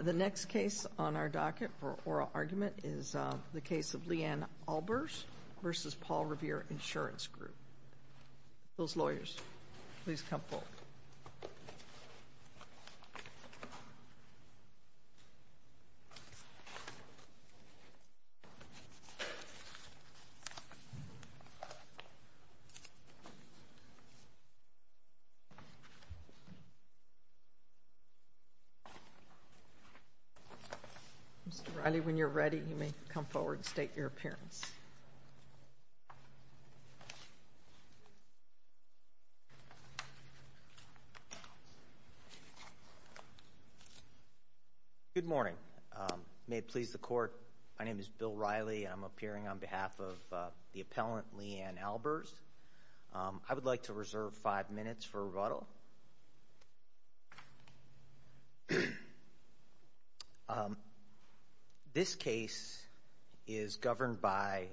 The next case on our docket for oral argument is the case of Leanne Albers v. Paul Revere Insurance Group. Those lawyers, please come forward. Mr. Reilly, when you're ready, you may come forward and state your appearance. Good morning. May it please the Court, my name is Bill Reilly and I'm appearing on behalf of the appellant, Leanne Albers. I would like to reserve five minutes for rebuttal. This case is governed by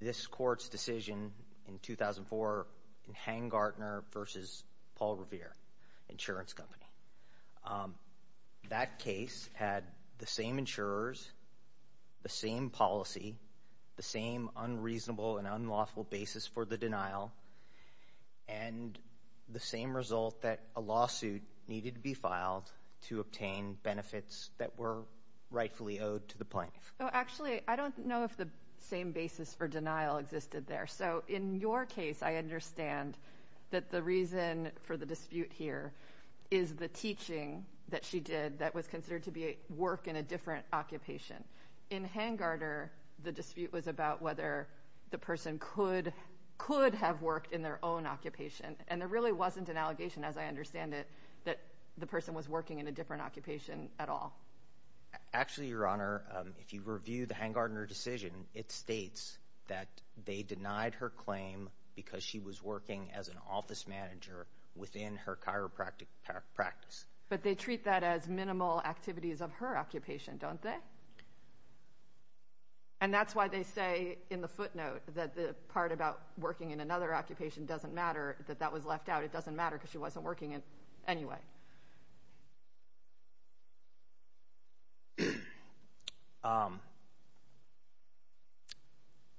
this Court's decision in 2004 in Hangartner v. Paul Revere Insurance Company. That case had the same insurers, the same policy, the same unreasonable and unlawful basis for the denial and the same result that a lawsuit needed to be filed to obtain benefits that were rightfully owed to the plaintiff. Actually, I don't know if the same basis for denial existed there. So in your case, I understand that the reason for the dispute here is the teaching that she did that was considered to be work in a different occupation. In Hangartner, the dispute was about whether the person could have worked in their own occupation. And there really wasn't an allegation, as I understand it, that the person was working in a different occupation at all. Actually, Your Honor, if you review the Hangartner decision, it states that they denied her claim because she was working as an office manager within her chiropractic practice. But they treat that as minimal activities of her occupation, don't they? And that's why they say in the footnote that the part about working in another occupation doesn't matter, that that was left out. It doesn't matter because she wasn't working in it anyway.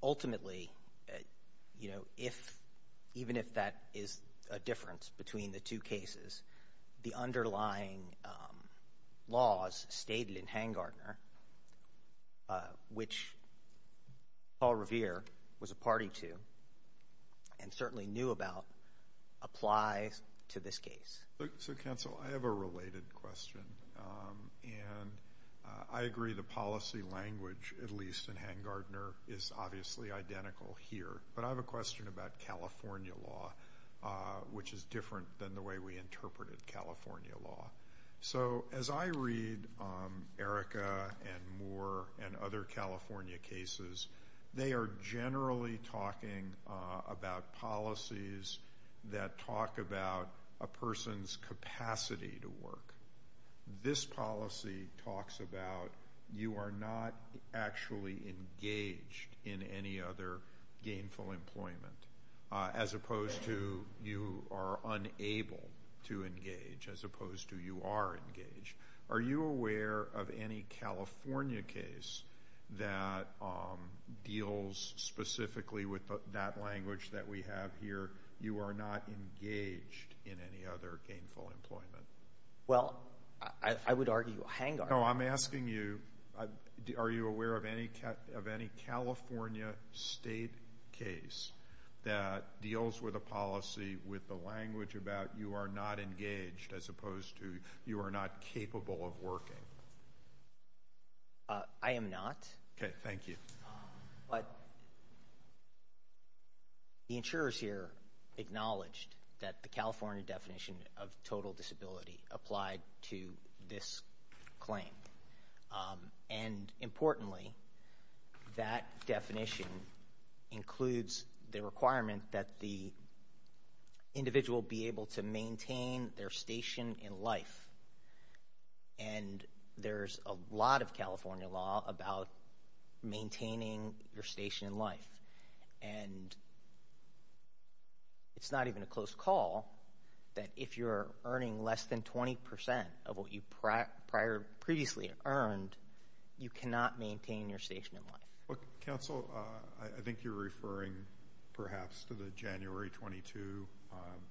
Ultimately, you know, even if that is a difference between the two cases, the underlying laws stated in Hangartner, which Paul Revere was a party to and certainly knew about, applies to this case. So, counsel, I have a related question. And I agree the policy language, at least in Hangartner, is obviously identical here. But I have a question about California law, which is different than the way we interpreted California law. So as I read Erica and Moore and other California cases, they are generally talking about policies that talk about a person's capacity to work. This policy talks about you are not actually engaged in any other gainful employment, as opposed to you are unable to engage, as opposed to you are engaged. Are you aware of any California case that deals specifically with that language that we have here, you are not engaged in any other gainful employment? Well, I would argue Hangartner. No, I'm asking you, are you aware of any California state case that deals with a policy with the language about you are not engaged, as opposed to you are not capable of working? I am not. Okay, thank you. But the insurers here acknowledged that the California definition of total disability applied to this claim. And importantly, that definition includes the requirement that the individual be able to maintain their station in life. And there's a lot of California law about maintaining your station in life. And it's not even a close call that if you're earning less than 20% of what you previously earned, you cannot maintain your station in life. Counsel, I think you're referring perhaps to the January 22,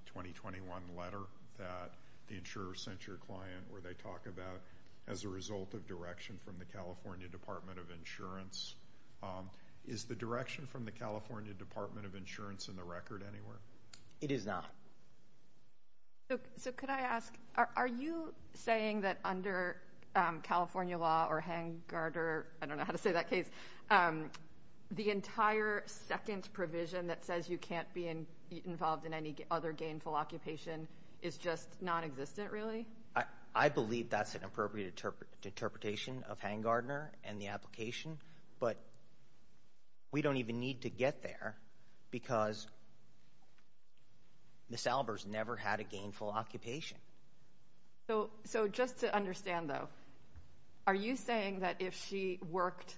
2021 letter that the insurer sent your client where they talk about as a result of direction from the California Department of Insurance. Is the direction from the California Department of Insurance in the record anywhere? It is not. So could I ask, are you saying that under California law or Hangartner, I don't know how to say that case, the entire second provision that says you can't be involved in any other gainful occupation is just nonexistent really? I believe that's an appropriate interpretation of Hangartner and the application. But we don't even need to get there because Ms. Albers never had a gainful occupation. So just to understand though, are you saying that if she worked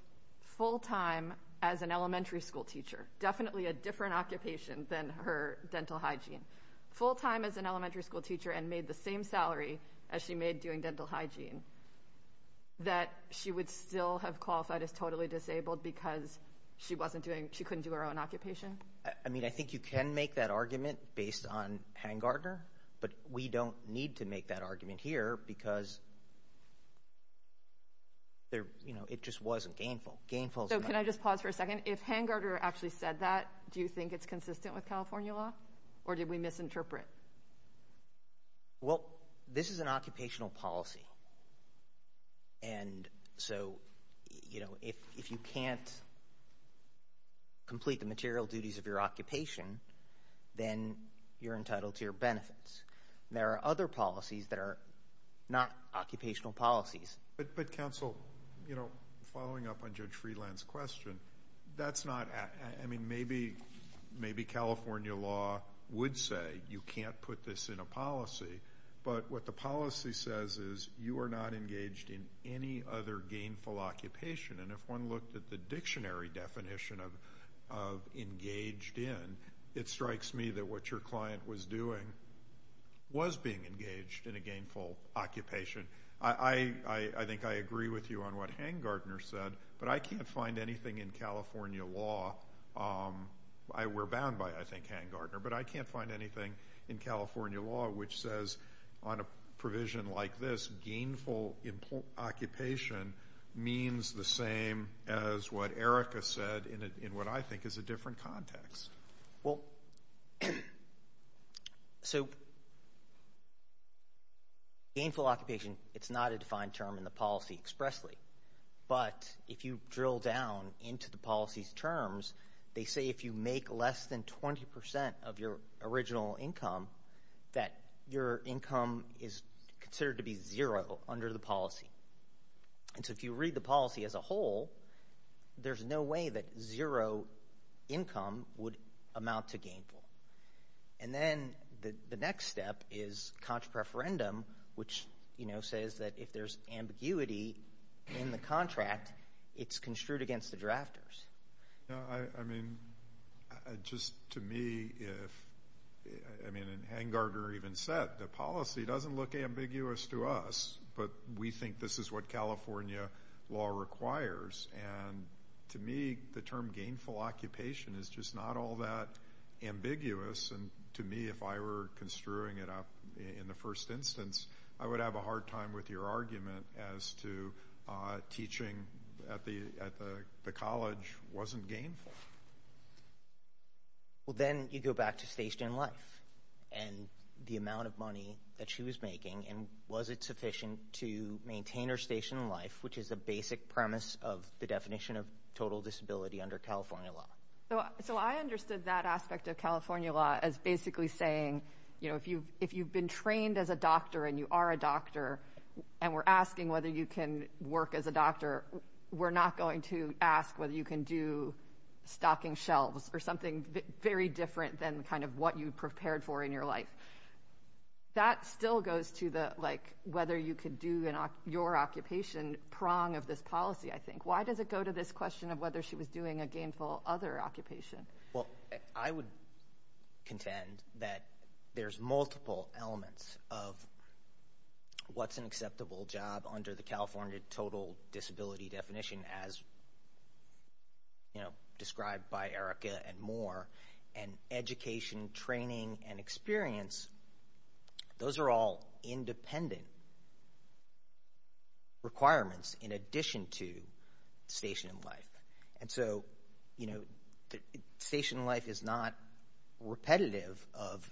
full time as an elementary school teacher, definitely a different occupation than her dental hygiene, full time as an elementary school teacher and made the same salary as she made doing dental hygiene, that she would still have qualified as totally disabled because she couldn't do her own occupation? I mean, I think you can make that argument based on Hangartner, but we don't need to make that argument here because it just wasn't gainful. So can I just pause for a second? If Hangartner actually said that, do you think it's consistent with California law or did we misinterpret? Well, this is an occupational policy, and so if you can't complete the material duties of your occupation, then you're entitled to your benefits. There are other policies that are not occupational policies. But counsel, following up on Judge Freeland's question, that's not – I mean, maybe California law would say you can't put this in a policy, but what the policy says is you are not engaged in any other gainful occupation. And if one looked at the dictionary definition of engaged in, it strikes me that what your client was doing was being engaged in a gainful occupation. I think I agree with you on what Hangartner said, but I can't find anything in California law. We're bound by, I think, Hangartner, but I can't find anything in California law which says on a provision like this, gainful occupation means the same as what Erica said in what I think is a different context. Well, so gainful occupation, it's not a defined term in the policy expressly. But if you drill down into the policy's terms, they say if you make less than 20% of your original income, that your income is considered to be zero under the policy. And so if you read the policy as a whole, there's no way that zero income would amount to gainful. And then the next step is contra-preferendum, which says that if there's ambiguity in the contract, it's construed against the drafters. I mean, just to me, if – I mean, and Hangartner even said the policy doesn't look ambiguous to us, but we think this is what California law requires. And to me, the term gainful occupation is just not all that ambiguous. And to me, if I were construing it up in the first instance, I would have a hard time with your argument as to teaching at the college wasn't gainful. Well, then you go back to station life and the amount of money that she was making. And was it sufficient to maintain her station in life, which is a basic premise of the definition of total disability under California law? So I understood that aspect of California law as basically saying, you know, if you've been trained as a doctor and you are a doctor and we're asking whether you can work as a doctor, we're not going to ask whether you can do stocking shelves or something very different than kind of what you prepared for in your life. That still goes to the, like, whether you could do your occupation prong of this policy, I think. Why does it go to this question of whether she was doing a gainful other occupation? Well, I would contend that there's multiple elements of what's an acceptable job under the California total disability definition as, you know, described by Erica and Moore. And education, training, and experience, those are all independent requirements in addition to station life. And so, you know, station life is not repetitive of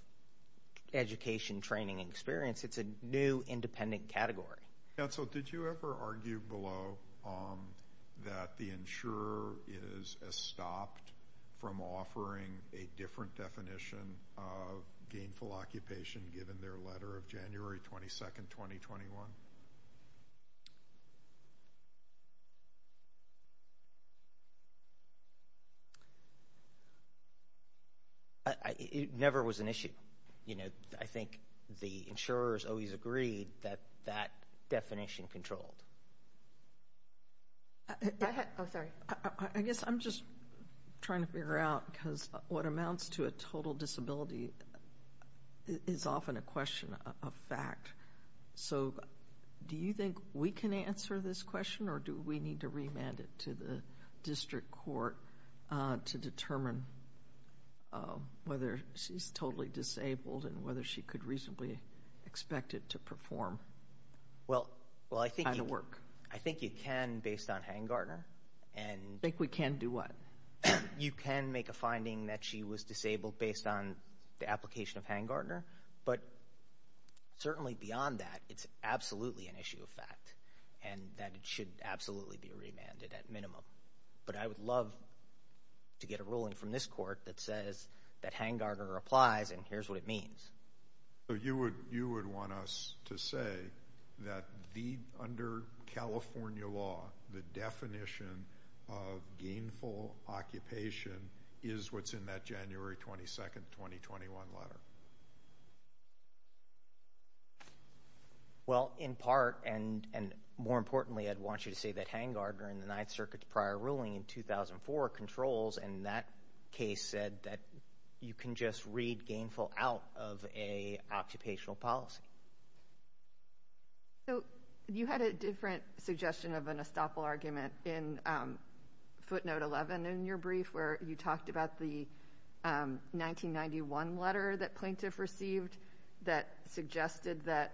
education, training, and experience. It's a new independent category. Council, did you ever argue below that the insurer is stopped from offering a different definition of gainful occupation given their letter of January 22nd, 2021? You know, I think the insurers always agreed that that definition controlled. Oh, sorry. I guess I'm just trying to figure out because what amounts to a total disability is often a question of fact. So do you think we can answer this question or do we need to remand it to the district court to determine whether she's totally disabled and whether she could reasonably expect it to perform? Well, I think you can based on Hangartner. I think we can do what? You can make a finding that she was disabled based on the application of Hangartner. But certainly beyond that, it's absolutely an issue of fact and that it should absolutely be remanded at minimum. But I would love to get a ruling from this court that says that Hangartner applies and here's what it means. So you would want us to say that under California law, the definition of gainful occupation is what's in that January 22nd, 2021 letter? Well, in part and more importantly, I'd want you to say that Hangartner in the Ninth Circuit's prior ruling in 2004 controls and that case said that you can just read gainful out of a occupational policy. So you had a different suggestion of an estoppel argument in footnote 11 in your brief where you talked about the 1991 letter that Plaintiff received that suggested that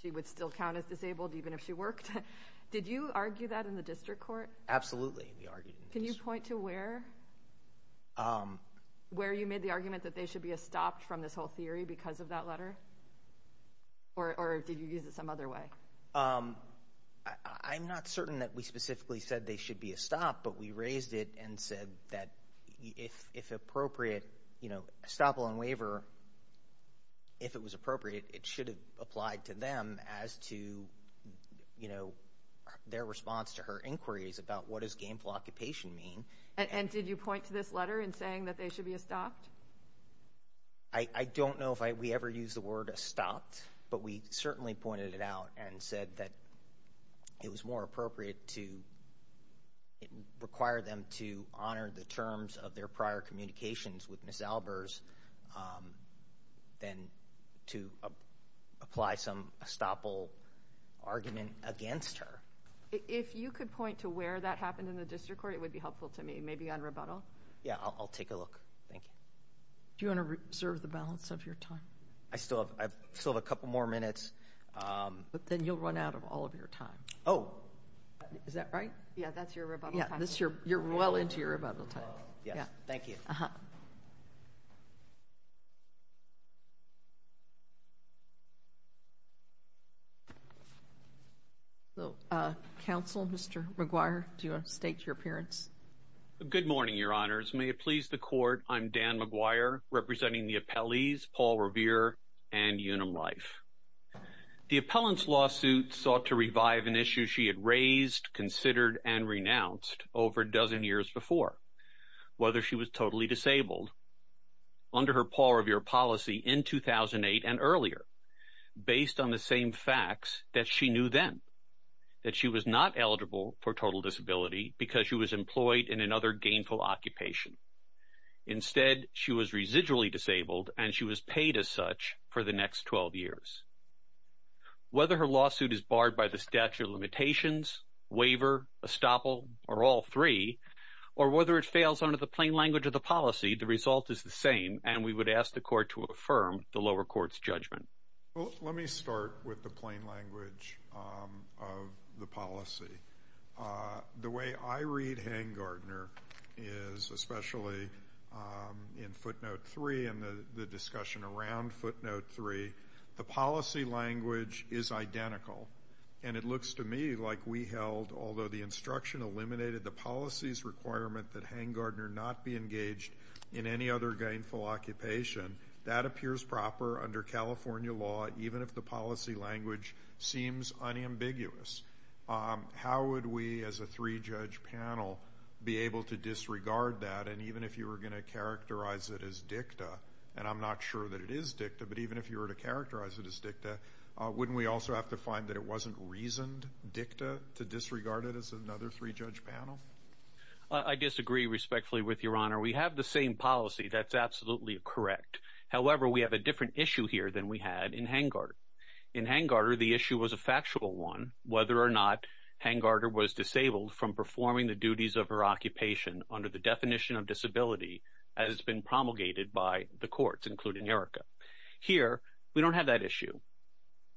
she would still count as disabled even if she worked. Did you argue that in the district court? Absolutely, we argued it. Can you point to where? Where you made the argument that they should be estopped from this whole theory because of that letter? Or did you use it some other way? I'm not certain that we specifically said they should be estopped, but we raised it and said that if appropriate, you know, estoppel and waiver, if it was appropriate, it should have applied to them as to, you know, their response to her inquiries about what does gainful occupation mean. And did you point to this letter in saying that they should be estopped? I don't know if we ever used the word estopped, but we certainly pointed it out and said that it was more appropriate to require them to honor the terms of their prior communications with Ms. Albers than to apply some estoppel argument against her. If you could point to where that happened in the district court, it would be helpful to me, maybe on rebuttal. Yeah, I'll take a look. Thank you. Do you want to reserve the balance of your time? I still have a couple more minutes. But then you'll run out of all of your time. Oh. Is that right? Yeah, that's your rebuttal time. Yeah, you're well into your rebuttal time. Yeah, thank you. Uh-huh. Counsel, Mr. McGuire, do you want to state your appearance? Good morning, Your Honors. May it please the Court, I'm Dan McGuire, representing the appellees Paul Revere and Unum Leif. The appellant's lawsuit sought to revive an issue she had raised, considered, and renounced over a dozen years before, whether she was totally disabled, under her Paul Revere policy in 2008 and earlier, based on the same facts that she knew then, that she was not eligible for total disability because she was employed in another gainful occupation. Instead, she was residually disabled, and she was paid as such for the next 12 years. Whether her lawsuit is barred by the statute of limitations, waiver, estoppel, or all three, or whether it fails under the plain language of the policy, the result is the same, and we would ask the Court to affirm the lower court's judgment. Well, let me start with the plain language of the policy. The way I read Hangardner is, especially in footnote 3 and the discussion around footnote 3, the policy language is identical. And it looks to me like we held, although the instruction eliminated the policy's requirement that Hangardner not be engaged in any other gainful occupation, that appears proper under California law, even if the policy language seems unambiguous. How would we as a three-judge panel be able to disregard that? And even if you were going to characterize it as dicta, and I'm not sure that it is dicta, but even if you were to characterize it as dicta, wouldn't we also have to find that it wasn't reasoned dicta to disregard it as another three-judge panel? I disagree respectfully with Your Honor. We have the same policy. That's absolutely correct. However, we have a different issue here than we had in Hangardner. In Hangardner, the issue was a factual one, whether or not Hangardner was disabled from performing the duties of her occupation under the definition of disability as it's been promulgated by the courts, including Erica. Here, we don't have that issue.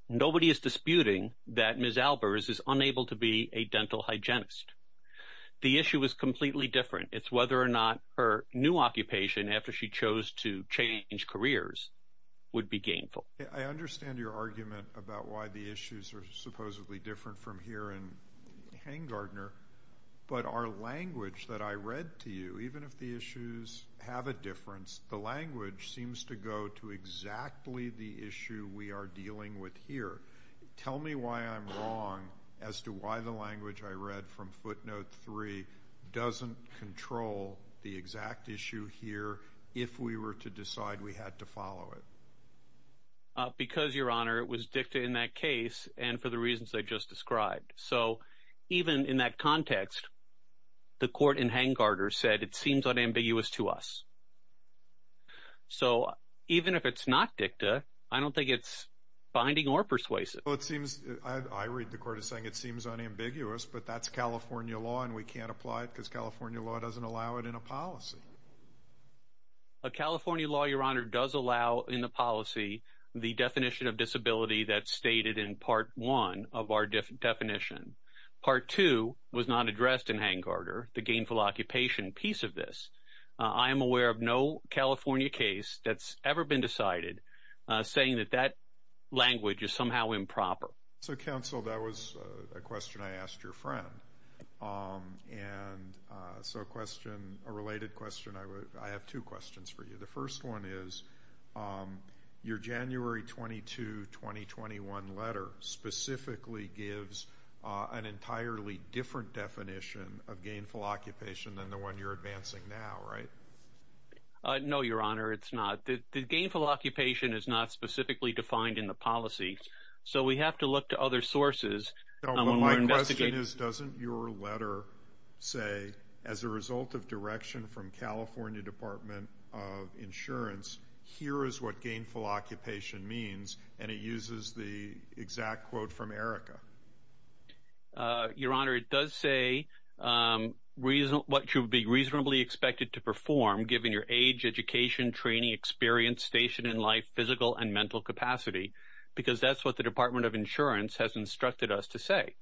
Nobody is disputing that Ms. Albers is unable to be a dental hygienist. The issue is completely different. It's whether or not her new occupation, after she chose to change careers, would be gainful. I understand your argument about why the issues are supposedly different from here in Hangardner, but our language that I read to you, even if the issues have a difference, the language seems to go to exactly the issue we are dealing with here. Tell me why I'm wrong as to why the language I read from footnote three doesn't control the exact issue here if we were to decide we had to follow it. Because, Your Honor, it was dicta in that case and for the reasons I just described. So even in that context, the court in Hangardner said it seems unambiguous to us. So even if it's not dicta, I don't think it's binding or persuasive. I read the court as saying it seems unambiguous, but that's California law and we can't apply it because California law doesn't allow it in a policy. California law, Your Honor, does allow in the policy the definition of disability that's stated in part one of our definition. Part two was not addressed in Hangardner, the gainful occupation piece of this. I am aware of no California case that's ever been decided saying that that language is somehow improper. So, Counsel, that was a question I asked your friend. And so a question, a related question, I have two questions for you. The first one is your January 22, 2021 letter specifically gives an entirely different definition of gainful occupation than the one you're advancing now, right? No, Your Honor, it's not. The gainful occupation is not specifically defined in the policy. So we have to look to other sources. My question is, doesn't your letter say as a result of direction from California Department of Insurance, here is what gainful occupation means? And it uses the exact quote from Erica. Your Honor, it does say reason what should be reasonably expected to perform given your age, education, training, experience, station in life, physical and mental capacity. Because that's what the Department of Insurance has instructed us to say.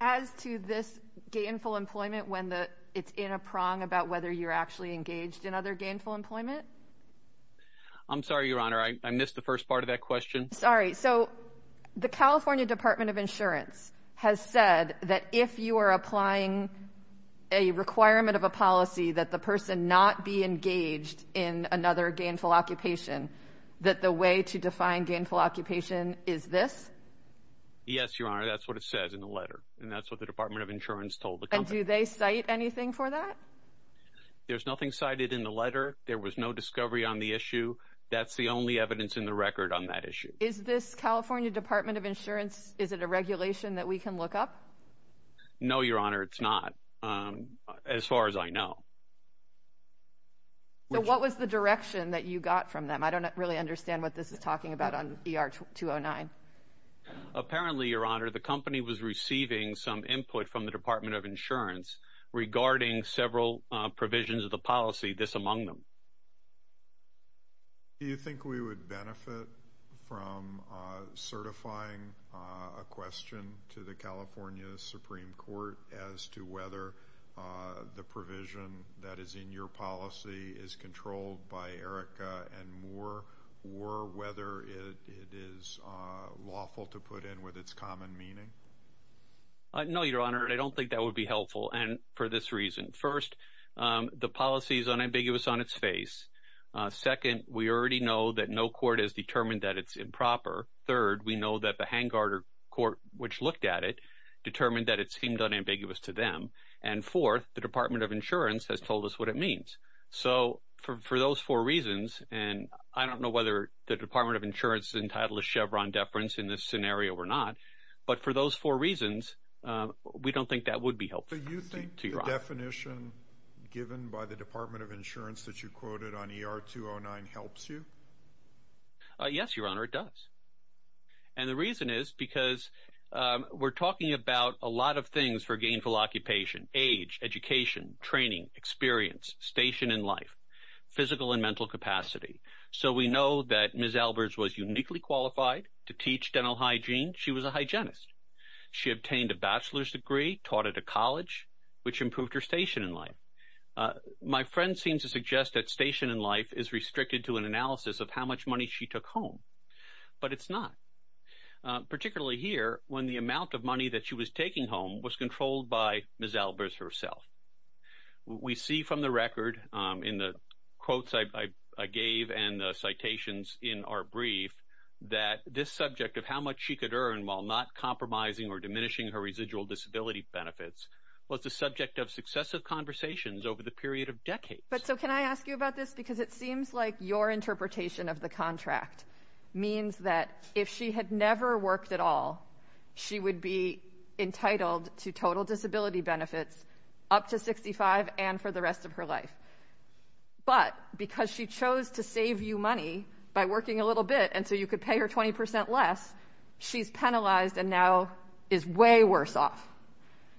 As to this gainful employment, when it's in a prong about whether you're actually engaged in other gainful employment. I'm sorry, Your Honor, I missed the first part of that question. Sorry. So the California Department of Insurance has said that if you are applying a requirement of a policy that the person not be engaged in another gainful occupation, that the way to define gainful occupation is this? Yes, Your Honor, that's what it says in the letter. And that's what the Department of Insurance told the company. Do they cite anything for that? There's nothing cited in the letter. There was no discovery on the issue. That's the only evidence in the record on that issue. Is this California Department of Insurance? Is it a regulation that we can look up? No, Your Honor, it's not. As far as I know. So what was the direction that you got from them? I don't really understand what this is talking about on ER 209. Apparently, Your Honor, the company was receiving some input from the Department of Insurance regarding several provisions of the policy, this among them. Do you think we would benefit from certifying a question to the California Supreme Court as to whether the provision that is in your policy is controlled by ERICA and more, or whether it is lawful to put in with its common meaning? No, Your Honor, I don't think that would be helpful for this reason. First, the policy is unambiguous on its face. Second, we already know that no court has determined that it's improper. Third, we know that the Hangar Court, which looked at it, determined that it seemed unambiguous to them. And fourth, the Department of Insurance has told us what it means. So for those four reasons, and I don't know whether the Department of Insurance is entitled to Chevron deference in this scenario or not, but for those four reasons, we don't think that would be helpful. So you think the definition given by the Department of Insurance that you quoted on ER209 helps you? Yes, Your Honor, it does. And the reason is because we're talking about a lot of things for gainful occupation, age, education, training, experience, station in life, physical and mental capacity. So we know that Ms. Albers was uniquely qualified to teach dental hygiene. She was a hygienist. She obtained a bachelor's degree, taught at a college, which improved her station in life. My friend seems to suggest that station in life is restricted to an analysis of how much money she took home. But it's not, particularly here when the amount of money that she was taking home was controlled by Ms. Albers herself. We see from the record in the quotes I gave and the citations in our brief that this subject of how much she could earn while not compromising or diminishing her residual disability benefits was the subject of successive conversations over the period of decades. But so can I ask you about this? Because it seems like your interpretation of the contract means that if she had never worked at all, she would be entitled to total disability benefits up to 65 and for the rest of her life. But because she chose to save you money by working a little bit and so you could pay her 20 percent less, she's penalized and now is way worse off.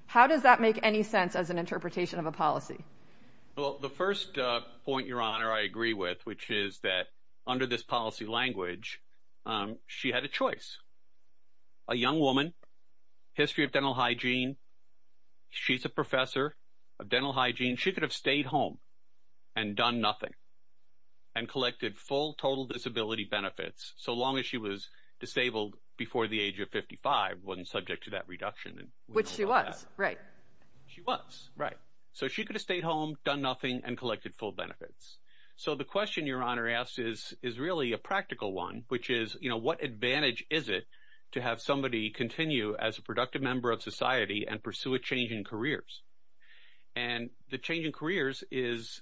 How does that make any sense as an interpretation of a policy? Well, the first point, Your Honor, I agree with, which is that under this policy language, she had a choice. A young woman, history of dental hygiene, she's a professor of dental hygiene. She could have stayed home and done nothing and collected full total disability benefits so long as she was disabled before the age of 55, wasn't subject to that reduction. Which she was, right. She was, right. So she could have stayed home, done nothing and collected full benefits. So the question Your Honor asks is really a practical one, which is, you know, what advantage is it to have somebody continue as a productive member of society and pursue a change in careers? And the change in careers is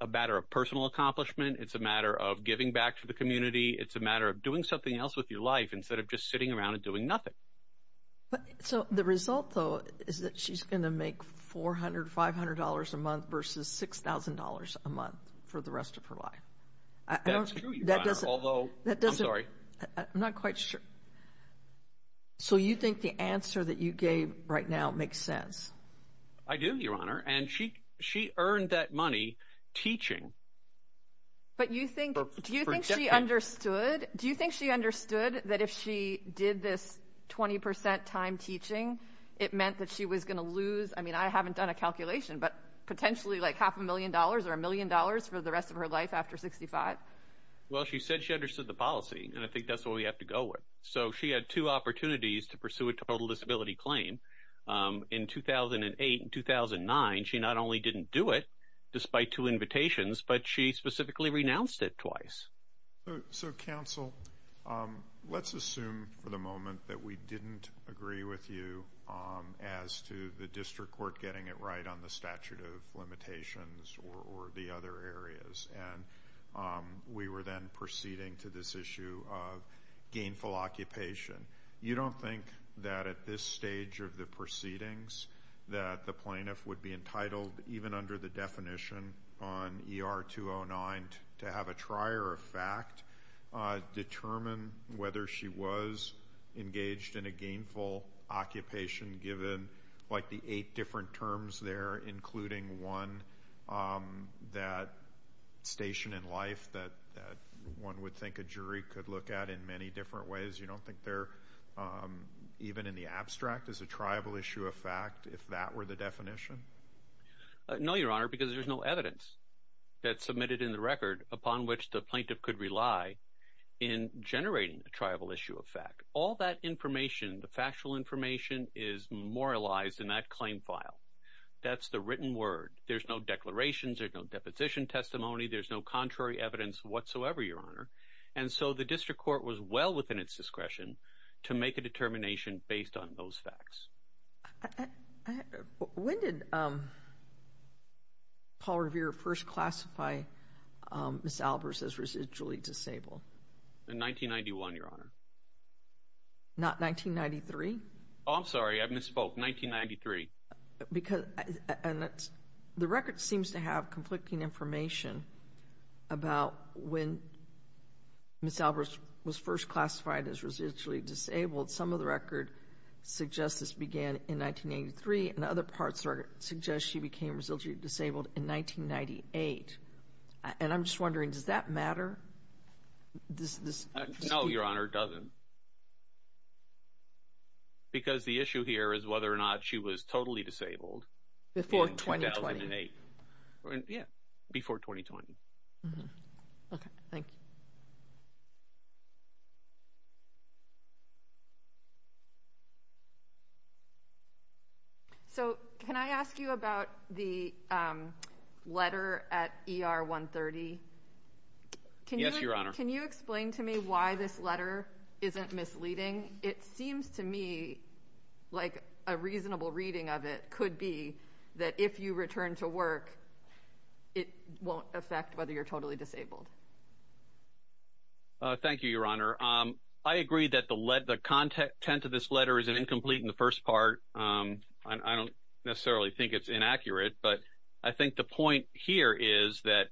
a matter of personal accomplishment. It's a matter of giving back to the community. It's a matter of doing something else with your life instead of just sitting around and doing nothing. So the result, though, is that she's going to make $400, $500 a month versus $6,000 a month for the rest of her life. That's true, Your Honor, although, I'm sorry. I'm not quite sure. So you think the answer that you gave right now makes sense? I do, Your Honor, and she earned that money teaching. But do you think she understood? Do you think she understood that if she did this 20% time teaching, it meant that she was going to lose, I mean, I haven't done a calculation, but potentially like half a million dollars or a million dollars for the rest of her life after 65? Well, she said she understood the policy, and I think that's what we have to go with. So she had two opportunities to pursue a total disability claim. In 2008 and 2009, she not only didn't do it despite two invitations, but she specifically renounced it twice. So, counsel, let's assume for the moment that we didn't agree with you as to the district court getting it right on the statute of limitations or the other areas, and we were then proceeding to this issue of gainful occupation. You don't think that at this stage of the proceedings that the plaintiff would be entitled, even under the definition on ER 209, to have a trier of fact determine whether she was engaged in a gainful occupation, given like the eight different terms there, including one, that station in life that one would think a jury could look at in many different ways? You don't think there, even in the abstract, is a triable issue of fact if that were the definition? No, Your Honor, because there's no evidence that's submitted in the record upon which the plaintiff could rely in generating a triable issue of fact. All that information, the factual information, is memorialized in that claim file. That's the written word. There's no declarations. There's no deposition testimony. There's no contrary evidence whatsoever, Your Honor. And so the district court was well within its discretion to make a determination based on those facts. When did Paul Revere first classify Ms. Albers as residually disabled? In 1991, Your Honor. Not 1993? Oh, I'm sorry. I misspoke. 1993. Because the record seems to have conflicting information about when Ms. Albers was first classified as residually disabled. Some of the record suggests this began in 1983, and other parts suggest she became residually disabled in 1998. And I'm just wondering, does that matter? Because the issue here is whether or not she was totally disabled in 2008. Before 2020. Yeah, before 2020. Okay. Thank you. So can I ask you about the letter at ER 130? Yes, Your Honor. Can you explain to me why this letter isn't misleading? It seems to me like a reasonable reading of it could be that if you return to work, it won't affect whether you're totally disabled. Thank you, Your Honor. I agree that the content of this letter is incomplete in the first part. I don't necessarily think it's inaccurate. But I think the point here is that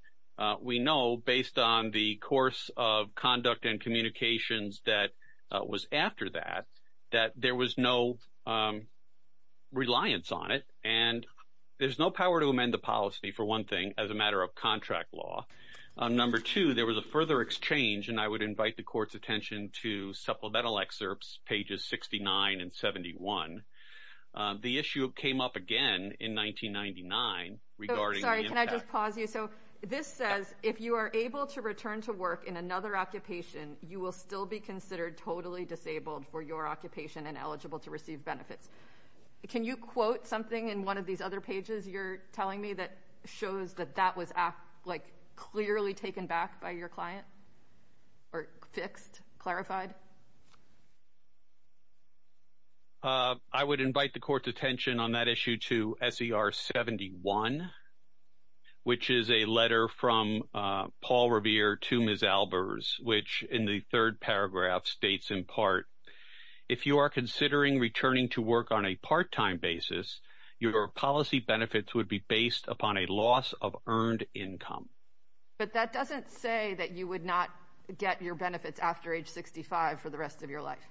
we know, based on the course of conduct and communications that was after that, that there was no reliance on it. And there's no power to amend the policy, for one thing, as a matter of contract law. Number two, there was a further exchange, and I would invite the Court's attention to supplemental excerpts, pages 69 and 71. The issue came up again in 1999 regarding the impact. Sorry, can I just pause you? So this says, if you are able to return to work in another occupation, you will still be considered totally disabled for your occupation and eligible to receive benefits. Can you quote something in one of these other pages you're telling me that shows that that was, like, clearly taken back by your client? Or fixed? Clarified? I would invite the Court's attention on that issue to SER 71, which is a letter from Paul Revere to Ms. Albers, which, in the third paragraph, states in part, if you are considering returning to work on a part-time basis, your policy benefits would be based upon a loss of earned income. But that doesn't say that you would not get your benefits after age 65 for the rest of your life.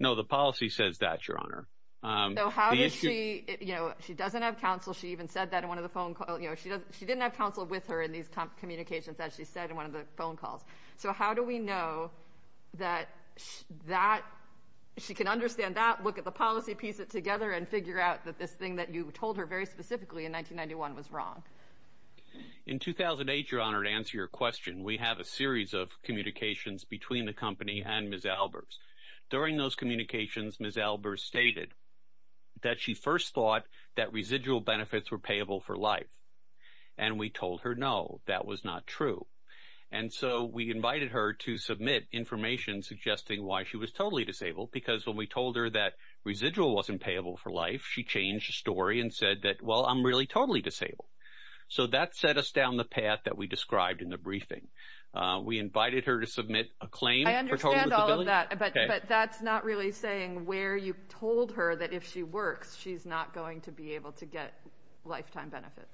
No, the policy says that, Your Honor. So how does she – you know, she doesn't have counsel. She even said that in one of the phone – you know, she didn't have counsel with her in these communications, as she said in one of the phone calls. So how do we know that that – she can understand that, look at the policy, piece it together, and figure out that this thing that you told her very specifically in 1991 was wrong? In 2008, Your Honor, to answer your question, we have a series of communications between the company and Ms. Albers. During those communications, Ms. Albers stated that she first thought that residual benefits were payable for life. And we told her, no, that was not true. And so we invited her to submit information suggesting why she was totally disabled, because when we told her that residual wasn't payable for life, she changed the story and said that, well, I'm really totally disabled. So that set us down the path that we described in the briefing. We invited her to submit a claim for total disability. I understand all of that, but that's not really saying where you told her that if she works, she's not going to be able to get lifetime benefits.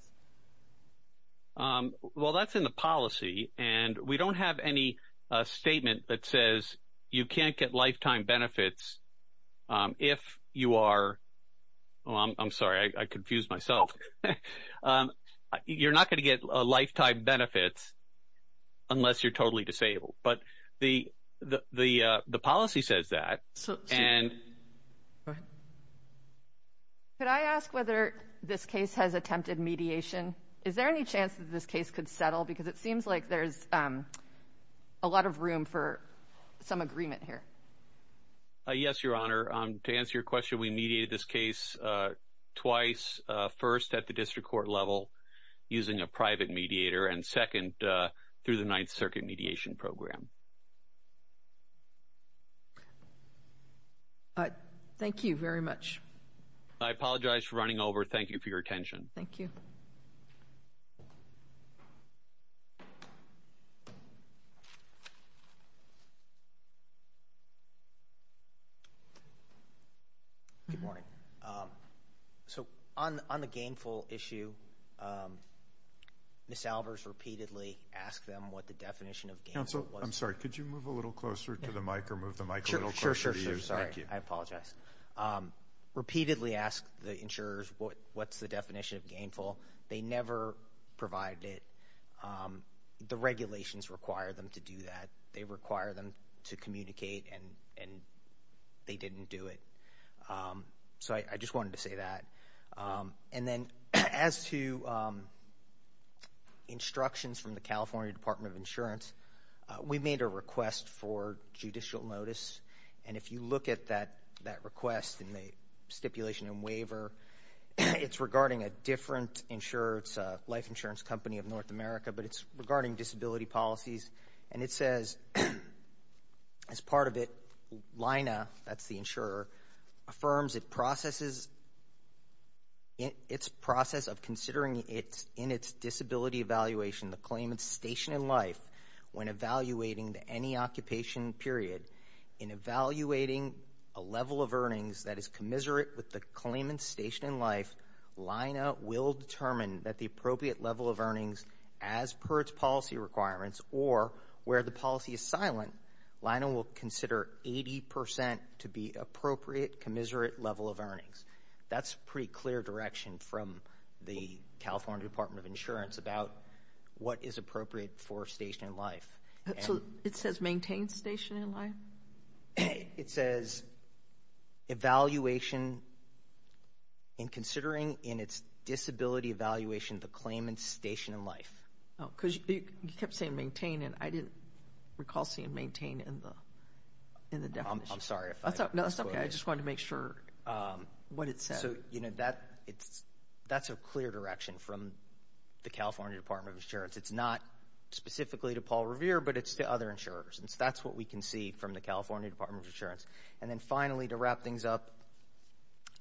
Well, that's in the policy. And we don't have any statement that says you can't get lifetime benefits if you are – oh, I'm sorry, I confused myself. You're not going to get lifetime benefits unless you're totally disabled. But the policy says that. Go ahead. Could I ask whether this case has attempted mediation? Is there any chance that this case could settle? Because it seems like there's a lot of room for some agreement here. Yes, Your Honor. To answer your question, we mediated this case twice, first at the district court level using a private mediator, and second through the Ninth Circuit mediation program. Thank you very much. I apologize for running over. Thank you for your attention. Thank you. Good morning. So on the gainful issue, Ms. Alvers repeatedly asked them what the definition of gainful was. Counsel, I'm sorry, could you move a little closer to the mic or move the mic a little closer to you? Sure, sure, sure. Sorry, I apologize. Repeatedly asked the insurers what's the definition of gainful. They never provided it. The regulations require them to do that. They require them to communicate, and they didn't do it. So I just wanted to say that. And then as to instructions from the California Department of Insurance, we made a request for judicial notice. And if you look at that request in the stipulation and waiver, it's regarding a different insurer. It's a life insurance company of North America, but it's regarding disability policies. And it says, as part of it, LINA, that's the insurer, affirms it processes, its process of considering in its disability evaluation the claimant's station in life when evaluating any occupation period. In evaluating a level of earnings that is commiserate with the claimant's station in life, LINA will determine that the appropriate level of earnings as per its policy requirements or where the policy is silent, LINA will consider 80 percent to be appropriate commiserate level of earnings. That's a pretty clear direction from the California Department of Insurance about what is appropriate for station in life. It says evaluation in considering in its disability evaluation the claimant's station in life. Oh, because you kept saying maintain, and I didn't recall seeing maintain in the definition. I'm sorry if I misquoted. No, that's okay. I just wanted to make sure what it said. So, you know, that's a clear direction from the California Department of Insurance. It's not specifically to Paul Revere, but it's to other insurers. And so that's what we can see from the California Department of Insurance. And then, finally, to wrap things up,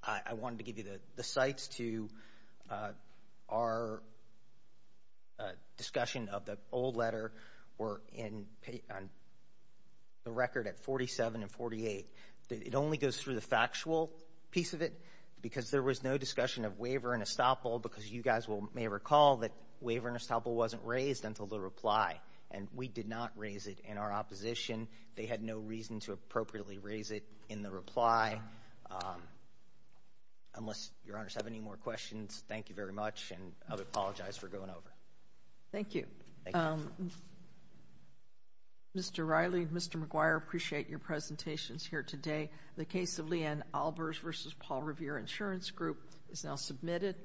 I wanted to give you the cites to our discussion of the old letter. We're on the record at 47 and 48. It only goes through the factual piece of it because there was no discussion of waiver and estoppel because you guys may recall that waiver and estoppel wasn't raised until the reply, and we did not raise it in our opposition. They had no reason to appropriately raise it in the reply. Unless your honors have any more questions, thank you very much, and I apologize for going over. Thank you. Thank you. Mr. Riley, Mr. McGuire, I appreciate your presentations here today. The case of Leanne Albers v. Paul Revere Insurance Group is now submitted.